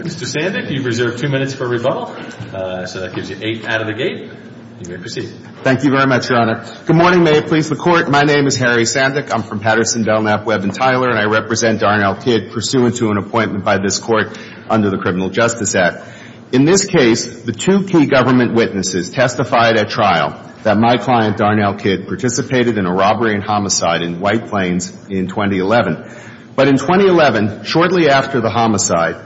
Mr. Sandick, you've reserved two minutes for rebuttal, so that gives you eight out of the gate. You may proceed. Thank you very much, Your Honor. Good morning. May it please the Court. My name is Harry Sandick. I'm from Patterson, Delknap, Webb & Tyler, and I represent Darnell Kidd pursuant to an appointment by this Court under the Criminal Justice Act. In this case, the two key government witnesses testified at trial that my client, Darnell Kidd, participated in a robbery and homicide in White Plains in 2011. But in 2011, shortly after the homicide,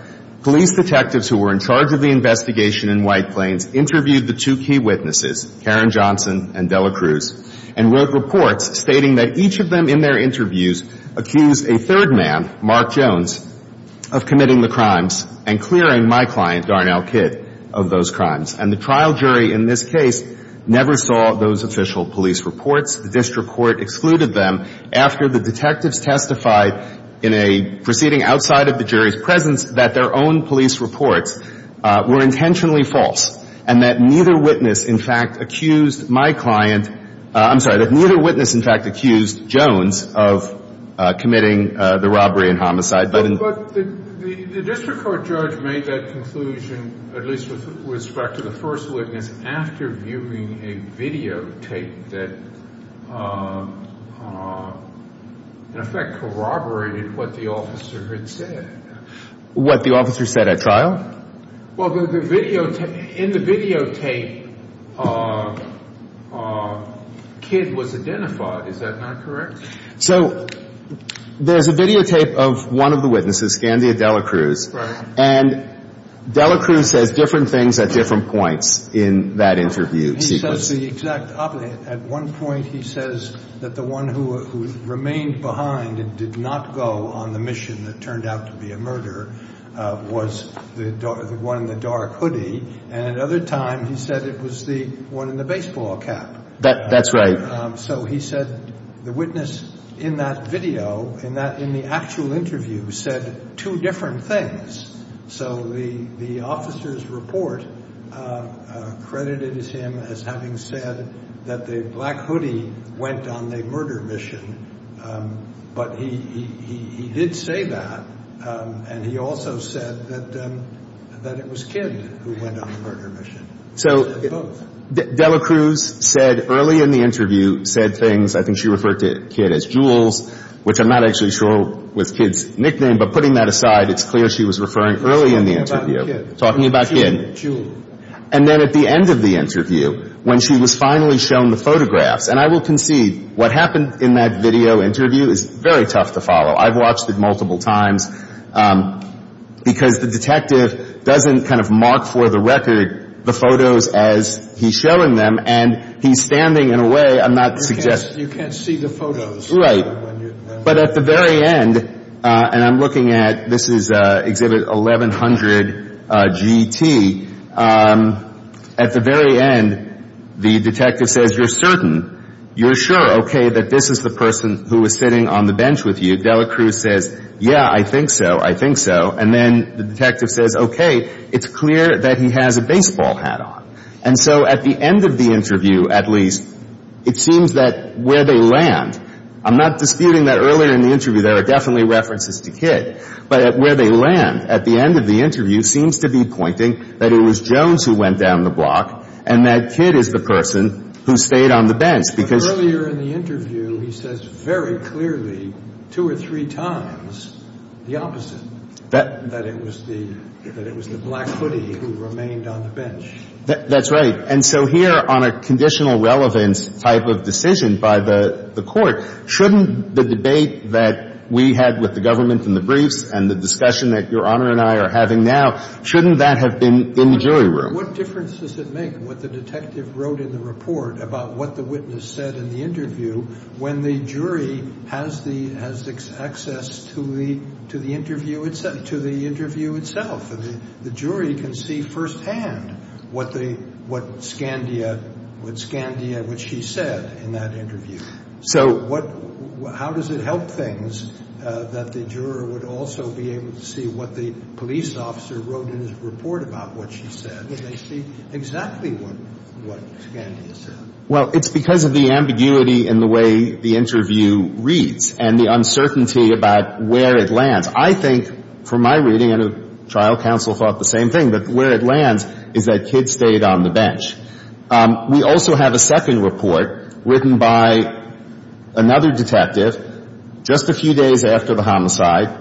police detectives who were in charge of the investigation in White Plains interviewed the two key witnesses, Karen Johnson and Della Cruz, and wrote reports stating that each of them in their interviews accused a third man, Mark Jones, of committing the crimes and clearing my client, Darnell Kidd, of those crimes. And the trial jury in this case never saw those official police reports. The district court excluded them after the detectives testified in a proceeding outside of the jury's presence that their own police reports were intentionally false and that neither witness, in fact, accused my client – I'm sorry, that neither witness, in fact, accused Jones of committing the robbery and homicide. But in – But the district court judge made that conclusion, at least with respect to the first witness, after viewing a videotape that, in effect, corroborated what the officer had said. What the officer said at trial? Well, the videotape – in the videotape, Kidd was identified. Is that not correct? So there's a videotape of one of the witnesses, Scandia Della Cruz. Right. And Della Cruz says different things at different points in that interview sequence. He says the exact opposite. At one point, he says that the one who remained behind and did not go on the mission that turned out to be a murder was the one in the dark hoodie. And at another time, he said it was the one in the baseball cap. That's right. So he said the witness in that video, in the actual interview, said two different things. So the officer's report credited him as having said that the black hoodie went on the murder mission. But he did say that, and he also said that it was Kidd who went on the murder mission. So Della Cruz said, early in the interview, said things – I think she referred to Kidd as Jules, which I'm not actually sure was Kidd's nickname. But putting that aside, it's clear she was referring early in the interview, talking about Kidd. Jules. And then at the end of the interview, when she was finally shown the photographs – and I will concede, what happened in that video interview is very tough to follow. I've watched it multiple times, because the detective doesn't kind of mark for the record the photos as he's showing them, and he's standing in a way – I'm not suggesting – You can't see the photos. Right. But at the very end – and I'm looking at – this is Exhibit 1100-GT. At the very end, the detective says, you're certain, you're sure, okay, that this is the person who was sitting on the bench with you. Della Cruz says, yeah, I think so, I think so. And then the detective says, okay, it's clear that he has a baseball hat on. And so at the end of the interview, at least, it seems that where they land – I'm not disputing that earlier in the interview there are definitely references to Kidd. But where they land at the end of the interview seems to be pointing that it was Jones who went down the block, and that Kidd is the person who stayed on the bench, because – But earlier in the interview, he says very clearly, two or three times, the opposite, that it was the black footy who remained on the bench. That's right. And so here, on a conditional relevance type of decision by the court, shouldn't the debate that we had with the government in the briefs and the discussion that Your Honor and I are having now, shouldn't that have been in the jury room? But what difference does it make what the detective wrote in the report about what the witness said in the interview when the jury has the – has access to the interview itself – to the interview itself? The jury can see firsthand what the – what Scandia – what Scandia – what she said in that interview. So – So what – how does it help things that the juror would also be able to see what the police officer wrote in his report about what she said, and they see exactly what Scandia said? Well, it's because of the ambiguity in the way the interview reads, and the uncertainty about where it lands. I think, from my reading – and the trial counsel thought the same thing – that where it lands is that Kidd stayed on the bench. We also have a second report written by another detective just a few days after the homicide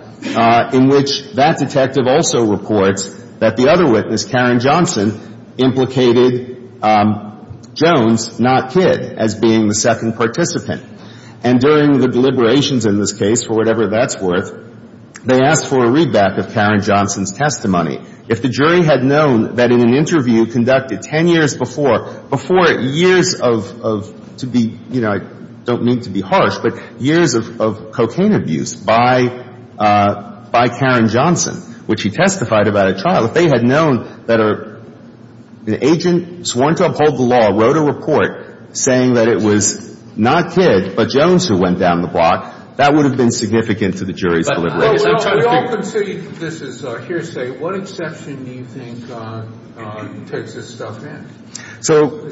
in which that detective also reports that the other witness, Karen Johnson, implicated Jones not Kidd as being the second participant. And during the deliberations in this case, for whatever that's worth, they asked for a readback of Karen Johnson's testimony. If the jury had known that in an interview conducted 10 years before – before years of – to be – you know, I don't mean to be harsh, but years of cocaine abuse by Karen Johnson, which he testified about at trial, if they had known that an agent sworn to uphold the law wrote a report saying that it was not Kidd but Jones who went down the block, that would have been significant to the jury's deliberations. We all consider this is hearsay. What exception do you think takes this stuff in? So,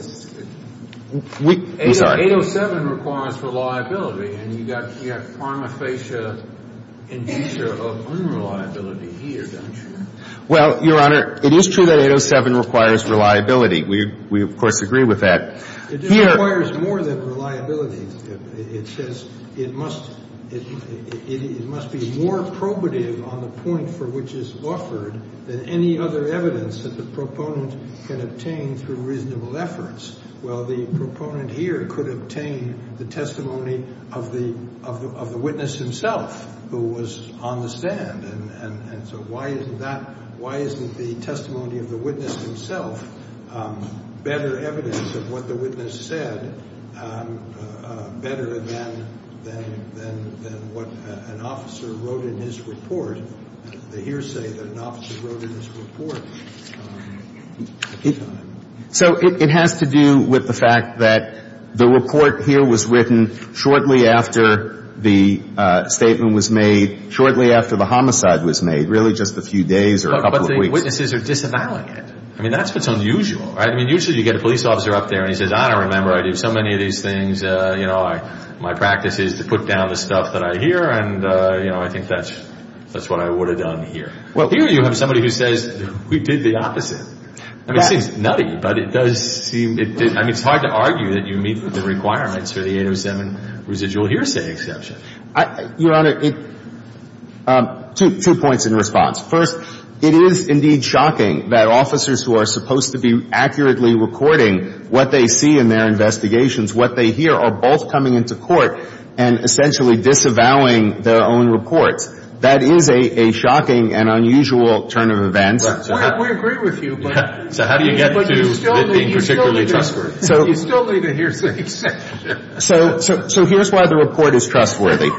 we – I'm sorry. 807 requires reliability. And you got – you have pharmaphasia indicia of unreliability here, don't you? Well, Your Honor, it is true that 807 requires reliability. We, of course, agree with that. It just requires more than reliability. It says it must – it must be more probative on the point for which it's offered than any other evidence that the proponent can obtain through reasonable efforts. Well, the proponent here could obtain the testimony of the – of the witness himself who was on the stand. And so why isn't that – why isn't the testimony of the witness himself better evidence of what the witness said better than – than what an officer wrote in his report, the hearsay that an officer wrote in his report? So, it has to do with the fact that the report here was written shortly after the statement was made, shortly after the homicide was made, really just a few days or a couple of weeks. But the witnesses are disavowing it. I mean, that's what's unusual, right? I mean, usually you get a police officer up there and he says, I don't remember, I do so many of these things, you know, my practice is to put down the stuff that I hear and, you know, I think that's – that's what I would have done here. Well, here you have somebody who says, we did the opposite. I mean, it seems nutty, but it does seem – I mean, it's hard to argue that you meet the requirements for the 807 residual hearsay exception. Your Honor, it – two points in response. First, it is indeed shocking that officers who are supposed to be accurately recording what they see in their investigations, what they hear, are both coming into court and essentially disavowing their own reports. That is a shocking and unusual turn of events. We agree with you, but – So how do you get to it being particularly trustworthy? You still need a hearsay exception. So here's why the report is trustworthy.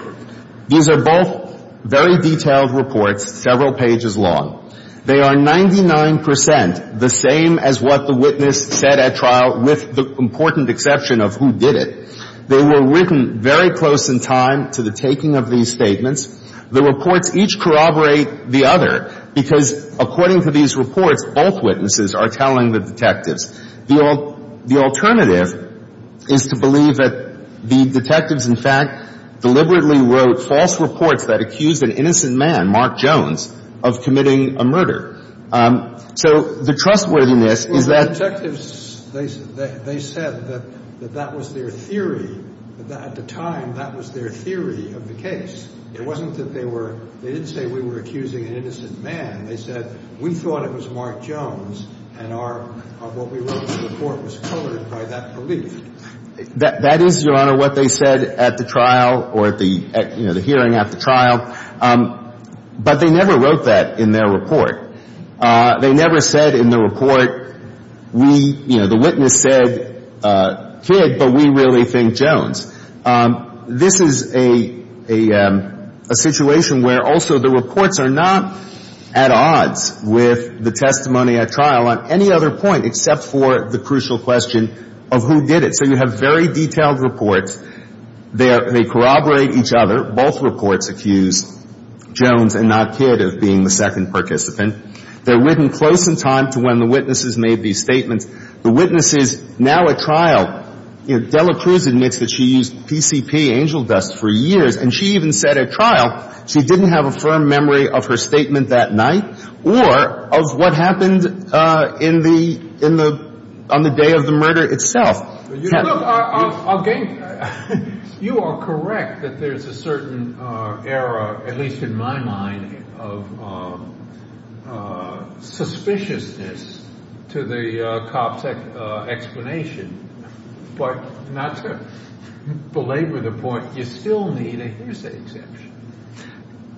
These are both very detailed reports, several pages long. They are 99 percent the same as what the witness said at trial, with the important exception of who did it. They were written very close in time to the taking of these statements. The reports each corroborate the other because, according to these reports, both witnesses are telling the detectives. The alternative is to believe that the detectives, in fact, deliberately wrote false reports that accused an innocent man, Mark Jones, of committing a murder. So the trustworthiness is that – Well, the detectives, they said that that was their theory. At the time, that was their theory of the case. It wasn't that they were – they didn't say we were accusing an innocent man. They said we thought it was Mark Jones, and our – what we wrote in the report was coded by that belief. That is, Your Honor, what they said at the trial or at the – you know, the hearing at the trial. But they never wrote that in their report. They never said in the report, we – you know, the witness said, kid, but we really think Jones. This is a situation where also the reports are not at odds with the testimony at trial on any other point except for the crucial question of who did it. So you have very detailed reports. They corroborate each other. Both reports accuse Jones and not kid of being the second participant. They're written close in time to when the witnesses made these statements. The witnesses now at trial – you know, Dela Cruz admits that she used PCP, angel dust, for years, and she even said at trial she didn't have a firm memory of her statement that night or of what happened in the – on the day of the murder itself. Well, look, I'll – you are correct that there's a certain error, at least in my mind, of suspiciousness to the cop's explanation. But not to belabor the point, you still need a hearsay exemption.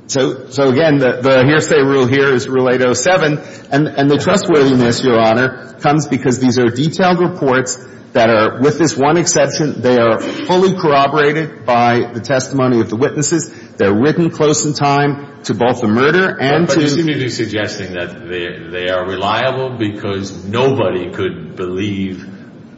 So, again, the hearsay rule here is Rule 807. And the trustworthiness, Your Honor, comes because these are detailed reports that are, with this one exception, they are fully corroborated by the testimony of the witnesses. They're written close in time to both the murder and to the – But you seem to be suggesting that they are reliable because nobody could believe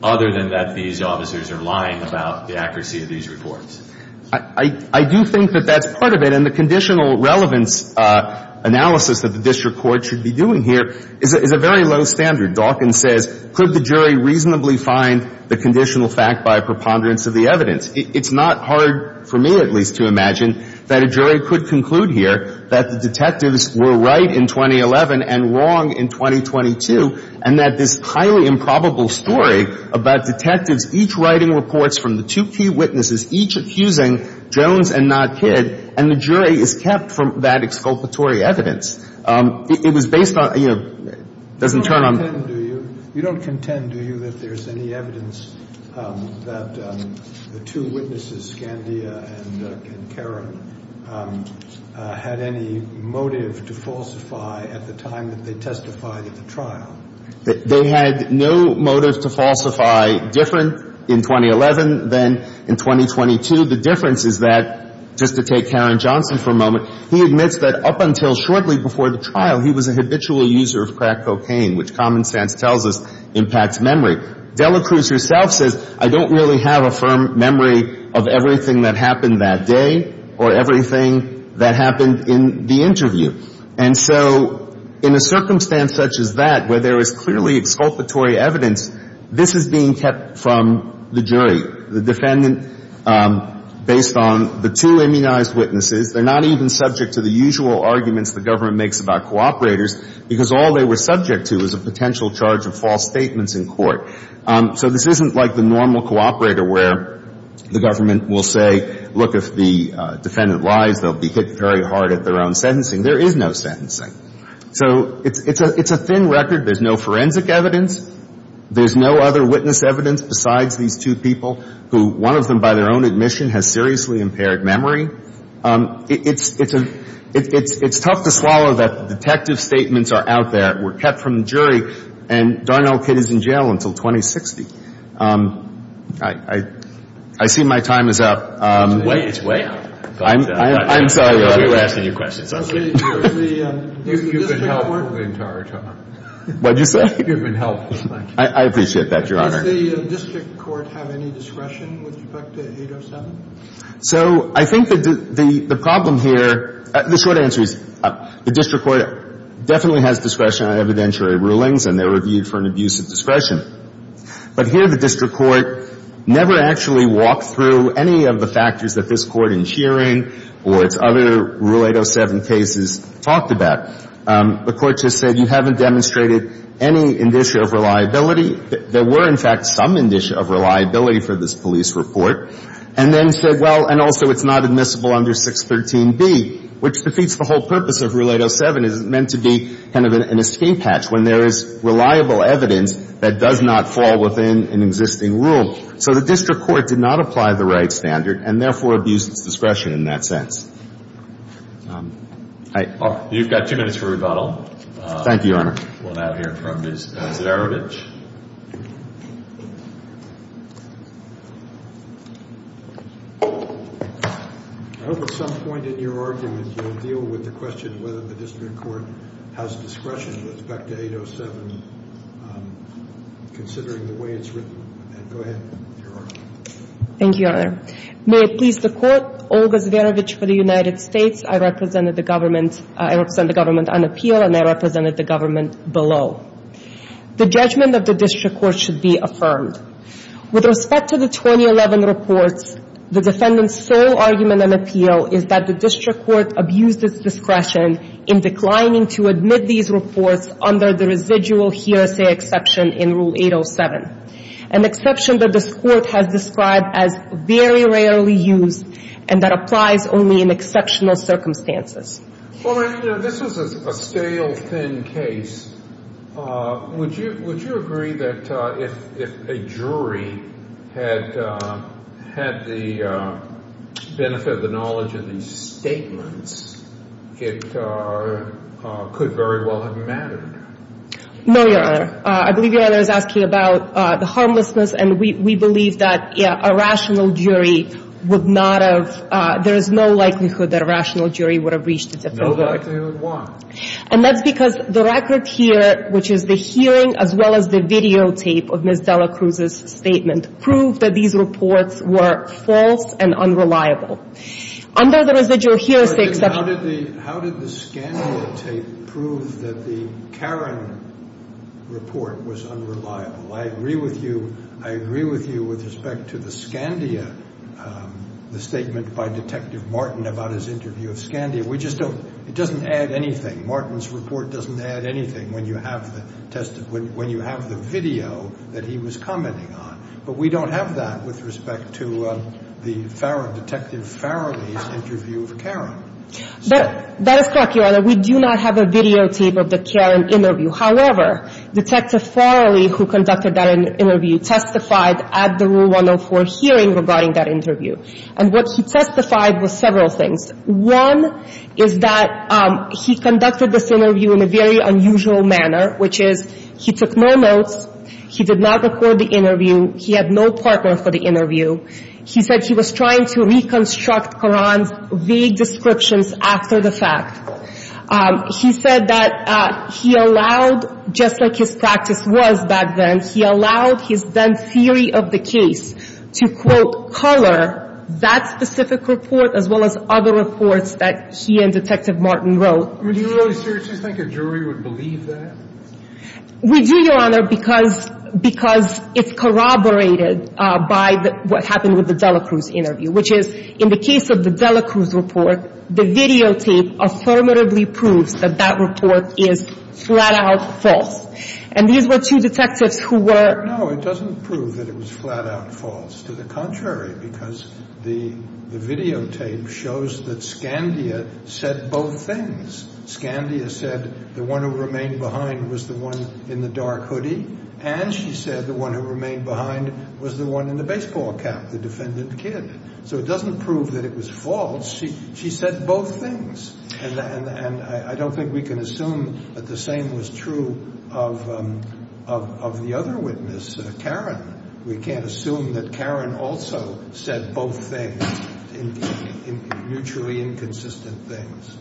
other than that these officers are lying about the accuracy of these reports. I do think that that's part of it. And the conditional relevance analysis that the district court should be doing here is a very low standard. Dawkins says, could the jury reasonably find the conditional fact by a preponderance of the evidence? It's not hard for me, at least, to imagine that a jury could conclude here that the detectives were right in 2011 and wrong in 2022, and that this highly improbable story about detectives each writing reports from the two key witnesses, each accusing the jury, Jones and not Kidd. And the jury is kept from that exculpatory evidence. It was based on – it doesn't turn on – You don't contend, do you, that there's any evidence that the two witnesses, Scandia and Karen, had any motive to falsify at the time that they testified at the trial? They had no motive to falsify different in 2011 than in 2022. The difference is that, just to take Karen Johnson for a moment, he admits that up until shortly before the trial, he was a habitual user of crack cocaine, which common sense tells us impacts memory. Delacruz herself says, I don't really have a firm memory of everything that happened that day or everything that happened in the interview. And so in a circumstance such as that, where there is clearly exculpatory evidence, this is being kept from the jury, the defendant, based on the two immunized witnesses. They're not even subject to the usual arguments the government makes about cooperators, because all they were subject to was a potential charge of false statements in court. So this isn't like the normal cooperator where the government will say, look, if the defendant lies, they'll be hit very hard at their own sentencing. There is no sentencing. So it's a thin record. There's no forensic evidence. There's no other witness evidence besides these two people who one of them, by their own admission, has seriously impaired memory. It's tough to swallow that the detective statements are out there, were kept from the jury, and darn old kid is in jail until 2060. I see my time is up. It's way out. I'm sorry. We were asking you questions. You've been helpful the entire time. What did you say? You've been helpful. I appreciate that, Your Honor. Does the district court have any discretion with respect to 807? So I think the problem here, the short answer is the district court definitely has discretion on evidentiary rulings, and they're reviewed for an abuse of discretion. But here the district court never actually walked through any of the factors that this Court in hearing or its other Rule 807 cases talked about. The Court just said you haven't demonstrated any indicia of reliability. There were, in fact, some indicia of reliability for this police report, and then said, well, and also it's not admissible under 613B, which defeats the whole purpose of Rule 807. It's meant to be kind of an escape hatch when there is reliable evidence that does not fall within an existing rule. So the district court did not apply the right standard and, therefore, abused its discretion in that sense. You've got two minutes for rebuttal. Thank you, Your Honor. We'll now hear from Ms. Zarovich. I hope at some point in your argument you'll deal with the question whether the district court has discretion with respect to 807 considering the way it's written. Go ahead, Your Honor. Thank you, Your Honor. May it please the Court, Olga Zverevich for the United States. I represent the government on appeal, and I represented the government below. The judgment of the district court should be affirmed. With respect to the 2011 reports, the defendant's sole argument on appeal is that the district court abused its discretion in declining to admit these reports under the residual hearsay exception in Rule 807. An exception that this Court has described as very rarely used and that applies only in exceptional circumstances. Well, this was a stale, thin case. Would you agree that if a jury had the benefit of the knowledge of these statements, it could very well have mattered? No, Your Honor. I believe Your Honor is asking about the harmlessness, and we believe that a rational jury would not have – there is no likelihood that a rational jury would have reached a different verdict. No likelihood. Why? And that's because the record here, which is the hearing as well as the videotape of Ms. Dela Cruz's statement, proved that these reports were false and unreliable. Under the residual hearsay exception – How did the Scandia tape prove that the Caron report was unreliable? I agree with you. I agree with you with respect to the Scandia – the statement by Detective Martin about his interview of Scandia. We just don't – it doesn't add anything. Martin's report doesn't add anything when you have the video that he was commenting on. But we don't have that with respect to the Farron – Detective Farrelly's interview of Caron. That is correct, Your Honor. We do not have a videotape of the Caron interview. However, Detective Farrelly, who conducted that interview, testified at the Rule 104 hearing regarding that interview. And what he testified was several things. One is that he conducted this interview in a very unusual manner, which is he took no notes. He did not record the interview. He had no partner for the interview. He said he was trying to reconstruct Caron's vague descriptions after the fact. He said that he allowed, just like his practice was back then, he allowed his then theory of the case to, quote, color that specific report as well as other reports that he and Detective Martin wrote. Do you think a jury would believe that? We do, Your Honor, because it's corroborated by what happened with the Delacruz interview, which is, in the case of the Delacruz report, the videotape affirmatively proves that that report is flat-out false. And these were two detectives who were – No, it doesn't prove that it was flat-out false. To the contrary, because the videotape shows that Scandia said both things. Scandia said the one who remained behind was the one in the dark hoodie, and she said the one who remained behind was the one in the baseball cap, the defendant kid. So it doesn't prove that it was false. She said both things. And I don't think we can assume that the same was true of the other witness, Caron. We can't assume that Caron also said both things, mutually inconsistent things.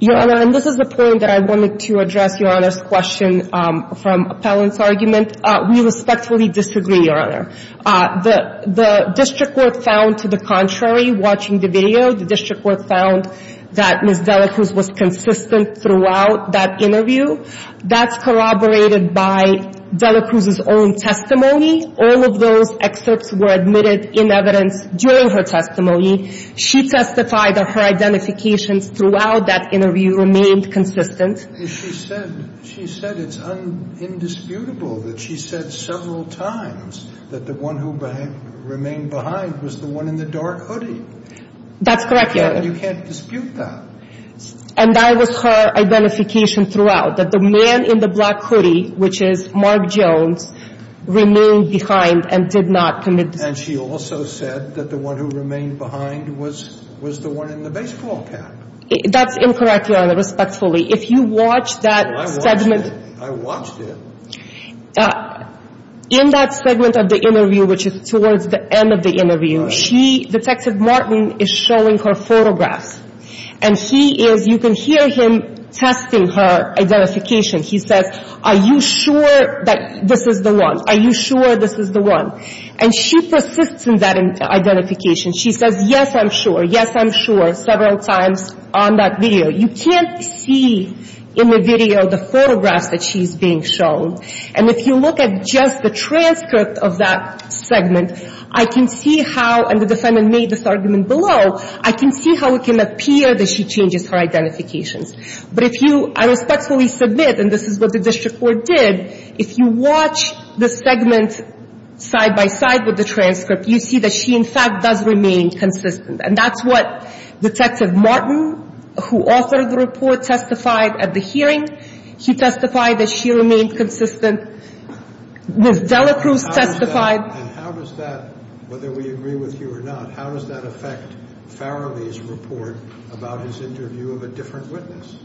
Your Honor, and this is the point that I wanted to address Your Honor's question from Appellant's argument. We respectfully disagree, Your Honor. The district court found, to the contrary, watching the video, the district court found that Ms. Delacruz was consistent throughout that interview. That's corroborated by Delacruz's own testimony. All of those excerpts were admitted in evidence during her testimony. She testified that her identifications throughout that interview remained consistent. She said it's indisputable that she said several times that the one who remained behind was the one in the dark hoodie. That's correct, Your Honor. You can't dispute that. And that was her identification throughout, that the man in the black hoodie, which is Mark Jones, remained behind and did not commit the crime. And she also said that the one who remained behind was the one in the baseball cap. That's incorrect, Your Honor, respectfully. If you watch that segment. I watched it. In that segment of the interview, which is towards the end of the interview, she, Detective Martin, is showing her photographs. And he is, you can hear him testing her identification. He says, are you sure that this is the one? Are you sure this is the one? And she persists in that identification. She says, yes, I'm sure. Yes, I'm sure, several times on that video. You can't see in the video the photographs that she's being shown. And if you look at just the transcript of that segment, I can see how, and the defendant made this argument below, I can see how it can appear that she changes her identifications. But if you, I respectfully submit, and this is what the district court did, if you watch the segment side by side with the transcript, you see that she, in fact, does remain consistent. And that's what Detective Martin, who authored the report, testified at the hearing. He testified that she remained consistent. Ms. Delacruz testified. And how does that, whether we agree with you or not, how does that affect Farrelly's report about his interview of a different witness?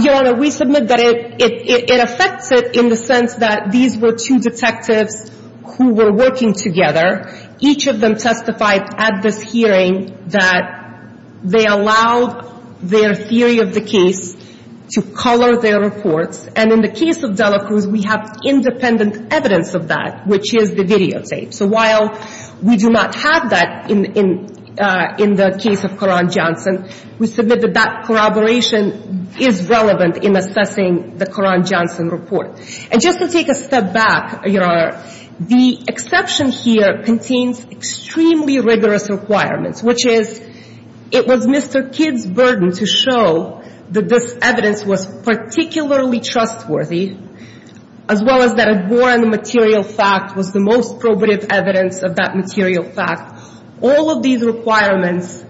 Your Honor, we submit that it affects it in the sense that these were two detectives who were working together. Each of them testified at this hearing that they allowed their theory of the case to color their reports. And in the case of Delacruz, we have independent evidence of that, which is the videotape. So while we do not have that in the case of Koran-Johnson, we submit that that corroboration is relevant in assessing the Koran-Johnson report. And just to take a step back, Your Honor, the exception here contains extremely rigorous requirements, which is it was Mr. Kidd's burden to show that this evidence was particularly trustworthy, as well as that a war on the material fact was the most corroborative evidence of that material fact. All of these requirements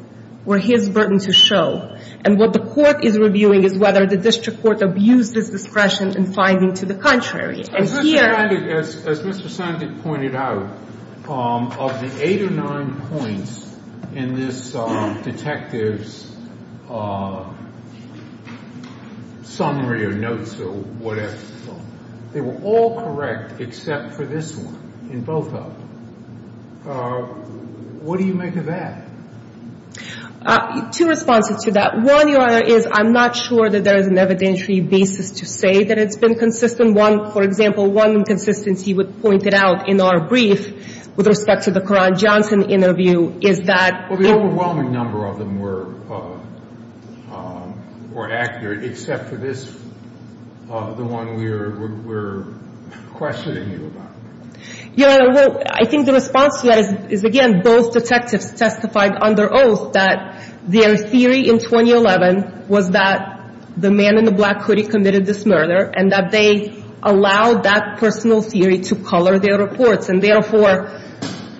were his burden to show. And what the Court is reviewing is whether the district court abused its discretion in finding to the contrary. And here — I'm just reminded, as Mr. Sandek pointed out, of the eight or nine points in this detective's summary or notes or whatever it's called, they were all correct except for this one, in both of them. What do you make of that? Two responses to that. One, Your Honor, is I'm not sure that there is an evidentiary basis to say that it's been consistent. One, for example, one inconsistency was pointed out in our brief with respect to the Koran-Johnson interview is that — Well, the overwhelming number of them were accurate, except for this, the one we're questioning you about. Your Honor, well, I think the response to that is, again, both detectives testified under oath that their theory in 2011 was that the man in the black hoodie committed this murder and that they allowed that personal theory to color their reports. And therefore,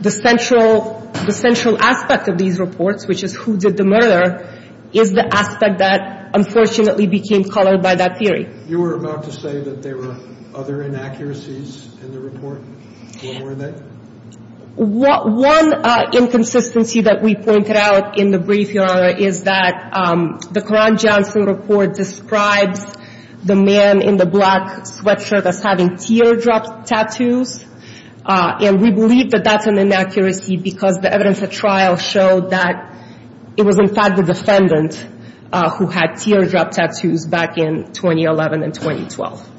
the central aspect of these reports, which is who did the murder, is the aspect that unfortunately became colored by that theory. You were about to say that there were other inaccuracies in the report. What were they? One inconsistency that we pointed out in the brief, Your Honor, is that the Koran-Johnson report describes the man in the black sweatshirt as having teardrop tattoos, and we believe that that's an inaccuracy because the evidence at trial showed that it was, in fact, the defendant who had teardrop tattoos back in 2011 and 2012.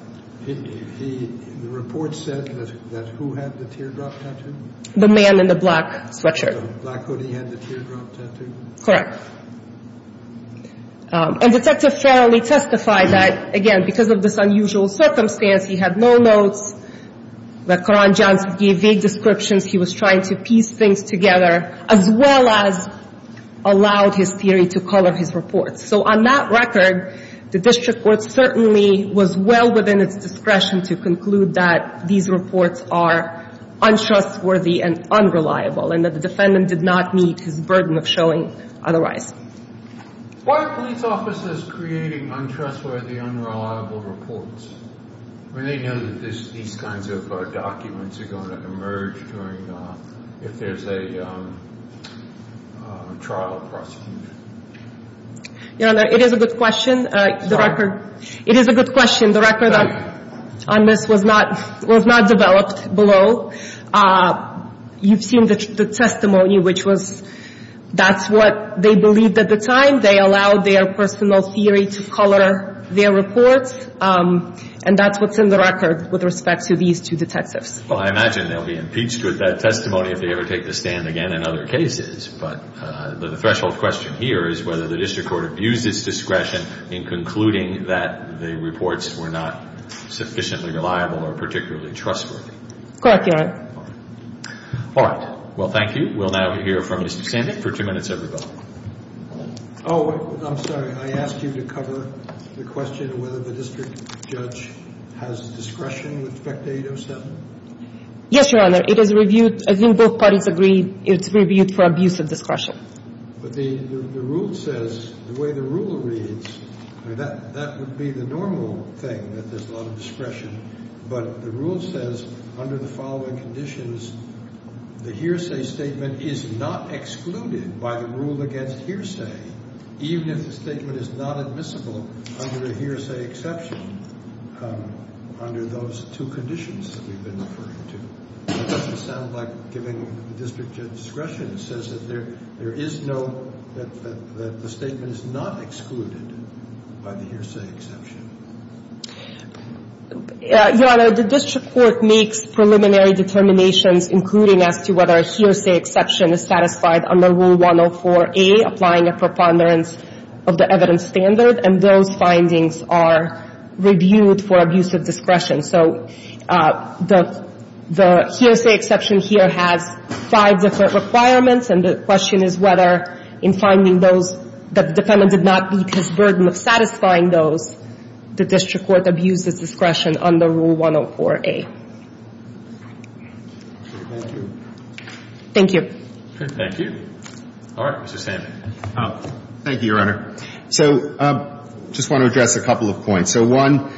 The report said that who had the teardrop tattoo? The man in the black sweatshirt. The man in the black hoodie had the teardrop tattoo? Correct. And Detective Farrelly testified that, again, because of this unusual circumstance, he had no notes, that Koran-Johnson gave vague descriptions. He was trying to piece things together as well as allowed his theory to color his reports. So on that record, the district court certainly was well within its discretion to conclude that these reports are untrustworthy and unreliable and that the defendant did not meet his burden of showing otherwise. Why are police officers creating untrustworthy, unreliable reports when they know that these kinds of documents are going to emerge if there's a trial prosecution? It is a good question. It is a good question. The record on this was not developed below. You've seen the testimony, which was that's what they believed at the time. They allowed their personal theory to color their reports, and that's what's in the record with respect to these two detectives. Well, I imagine they'll be impeached with that testimony if they ever take the stand again in other cases. But the threshold question here is whether the district court abused its discretion in concluding that the reports were not sufficiently reliable or particularly trustworthy. Correct, Your Honor. All right. Well, thank you. We will now hear from Mr. Sandin for two minutes, everybody. Oh, I'm sorry. I asked you to cover the question whether the district judge has discretion with respect to 807. Yes, Your Honor. It is reviewed. I think both parties agree it's reviewed for abuse of discretion. But the rule says the way the rule reads, that would be the normal thing, that there's a lot of discretion. But the rule says under the following conditions, the hearsay statement is not excluded by the rule against hearsay, even if the statement is not admissible under the hearsay exception, under those two conditions that we've been referring to. It doesn't sound like giving the district judge discretion. It says that there is no, that the statement is not excluded by the hearsay exception. Your Honor, the district court makes preliminary determinations, including as to whether a hearsay exception is satisfied under Rule 104A, applying a preponderance of the evidence standard, and those findings are reviewed for abuse of discretion. So the hearsay exception here has five different requirements, and the question is whether in finding those that the defendant did not meet his burden of satisfying those, the district court abuses discretion under Rule 104A. Thank you. Thank you. All right. Mr. Sandman. Thank you, Your Honor. So I just want to address a couple of points. So one,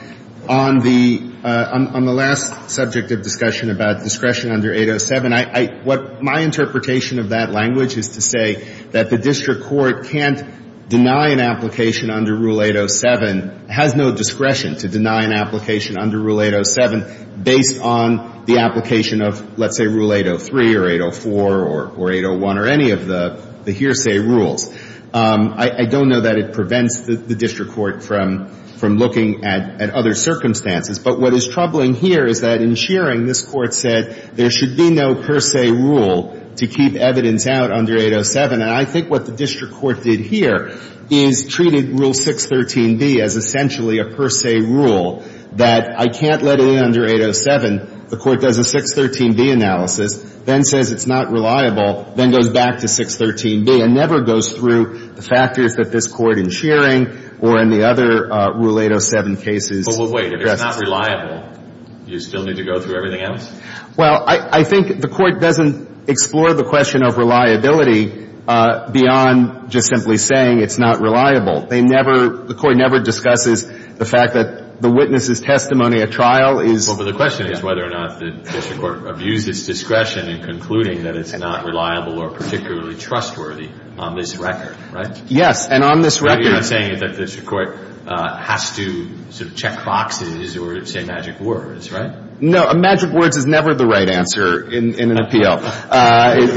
on the last subject of discussion about discretion under 807, what my interpretation of that language is to say that the district court can't deny an application under Rule 807, has no discretion to deny an application under Rule 807 based on the application of, let's say, Rule 803 or 804 or 801 or any of the hearsay rules. I don't know that it prevents the district court from looking at other circumstances. But what is troubling here is that in Shearing, this Court said there should be no per se rule to keep evidence out under 807. And I think what the district court did here is treated Rule 613B as essentially a per se rule that I can't let in under 807. The court does a 613B analysis, then says it's not reliable, then goes back to 613B and never goes through the factors that this Court in Shearing or in the other Rule 807 cases addresses. Well, wait. If it's not reliable, you still need to go through everything else? Well, I think the Court doesn't explore the question of reliability beyond just simply saying it's not reliable. They never — the Court never discusses the fact that the witness's testimony at trial is — Well, but the question is whether or not the district court abused its discretion in concluding that it's not reliable or particularly trustworthy on this record, right? Yes. And on this record — You're not saying that the district court has to sort of check boxes or say magic words, right? No. Magic words is never the right answer in an appeal,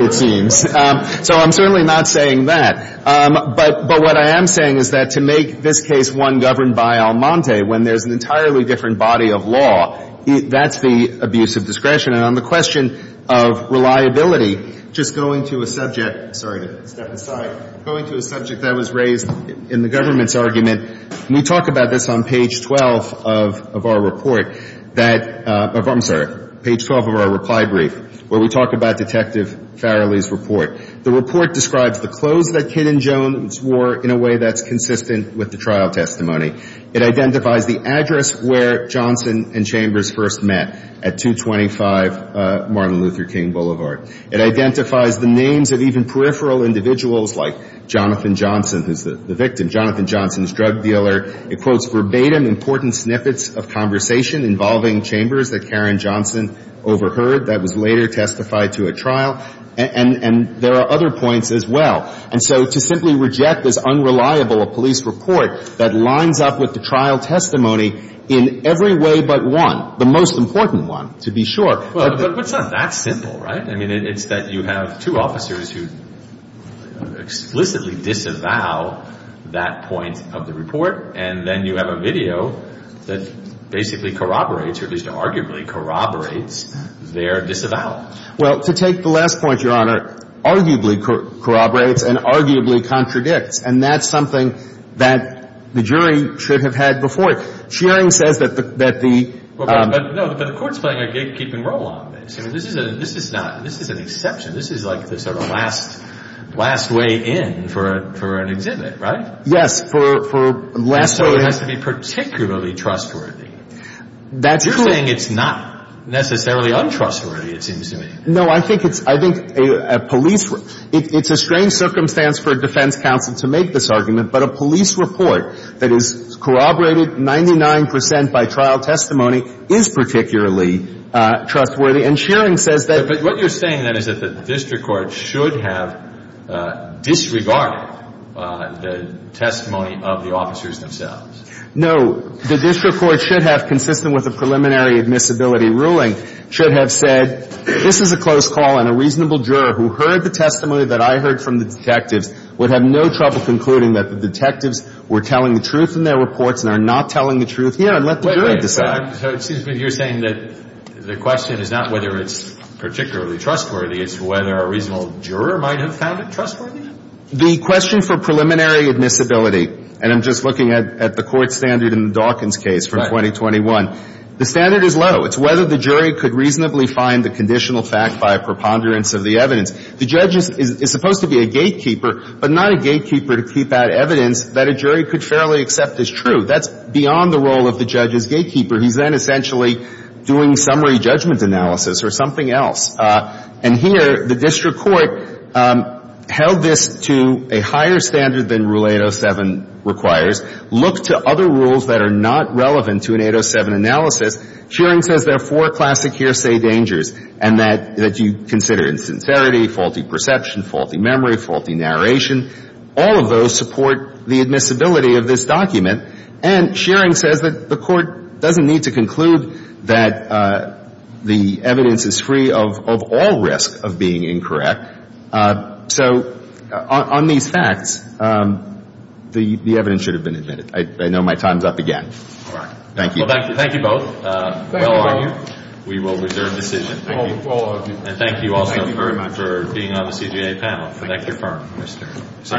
it seems. So I'm certainly not saying that. But what I am saying is that to make this case one governed by Almonte when there's an entirely different body of law, that's the abuse of discretion. And on the question of reliability, just going to a subject — sorry to step aside — going to a subject that was raised in the government's argument, and we talk about this on page 12 of our report that — I'm sorry, page 12 of our reply brief, where we talk about Detective Farrelly's report. The report describes the clothes that Kin and Jones wore in a way that's consistent with the trial testimony. It identifies the address where Johnson and Chambers first met at 225 Martin Luther King Boulevard. It identifies the names of even peripheral individuals like Jonathan Johnson, who's the victim. Jonathan Johnson's drug dealer. It quotes verbatim important snippets of conversation involving Chambers that Karen Johnson overheard that was later testified to at trial. And there are other points as well. And so to simply reject this unreliable police report that lines up with the trial testimony in every way but one, the most important one, to be sure. But it's not that simple, right? I mean, it's that you have two officers who explicitly disavow that point of the report, and then you have a video that basically corroborates, or at least arguably corroborates, their disavowal. Well, to take the last point, Your Honor, arguably corroborates and arguably contradicts. And that's something that the jury should have had before. Shearing says that the — But the court's playing a gatekeeping role on this. I mean, this is not — this is an exception. This is like the sort of last — last way in for an exhibit, right? Yes. For last — So it has to be particularly trustworthy. That's true. You're saying it's not necessarily untrustworthy, it seems to me. No. I think it's — I think a police — it's a strange circumstance for a defense counsel to make this argument. But a police report that is corroborated 99 percent by trial testimony is particularly trustworthy. And Shearing says that — But what you're saying, then, is that the district court should have disregarded the testimony of the officers themselves. No. The district court should have, consistent with the preliminary admissibility ruling, should have said, this is a close call, and a reasonable juror who heard the testimony that I heard from the detectives would have no trouble concluding that the detectives were telling the truth in their reports and are not telling the truth here, and let the jury decide. So it seems to me you're saying that the question is not whether it's particularly trustworthy. It's whether a reasonable juror might have found it trustworthy. The question for preliminary admissibility — and I'm just looking at the court standard in the Dawkins case from 2021. Right. The standard is low. It's whether the jury could reasonably find the conditional fact by a preponderance of the evidence. The judge is supposed to be a gatekeeper, but not a gatekeeper to keep out evidence that a jury could fairly accept as true. That's beyond the role of the judge as gatekeeper. He's then essentially doing summary judgment analysis or something else. And here, the district court held this to a higher standard than Rule 807 requires, looked to other rules that are not relevant to an 807 analysis. Shearing says there are four classic hearsay dangers, and that you consider insincerity, faulty perception, faulty memory, faulty narration. All of those support the admissibility of this document. And Shearing says that the Court doesn't need to conclude that the evidence is free of all risk of being incorrect. So on these facts, the evidence should have been admitted. I know my time's up again. All right. Thank you. Well, thank you both. Thank you. We will reserve decision. Thank you. All of you. And thank you also for being on the CJA panel. Connect your phone. Yes, sir.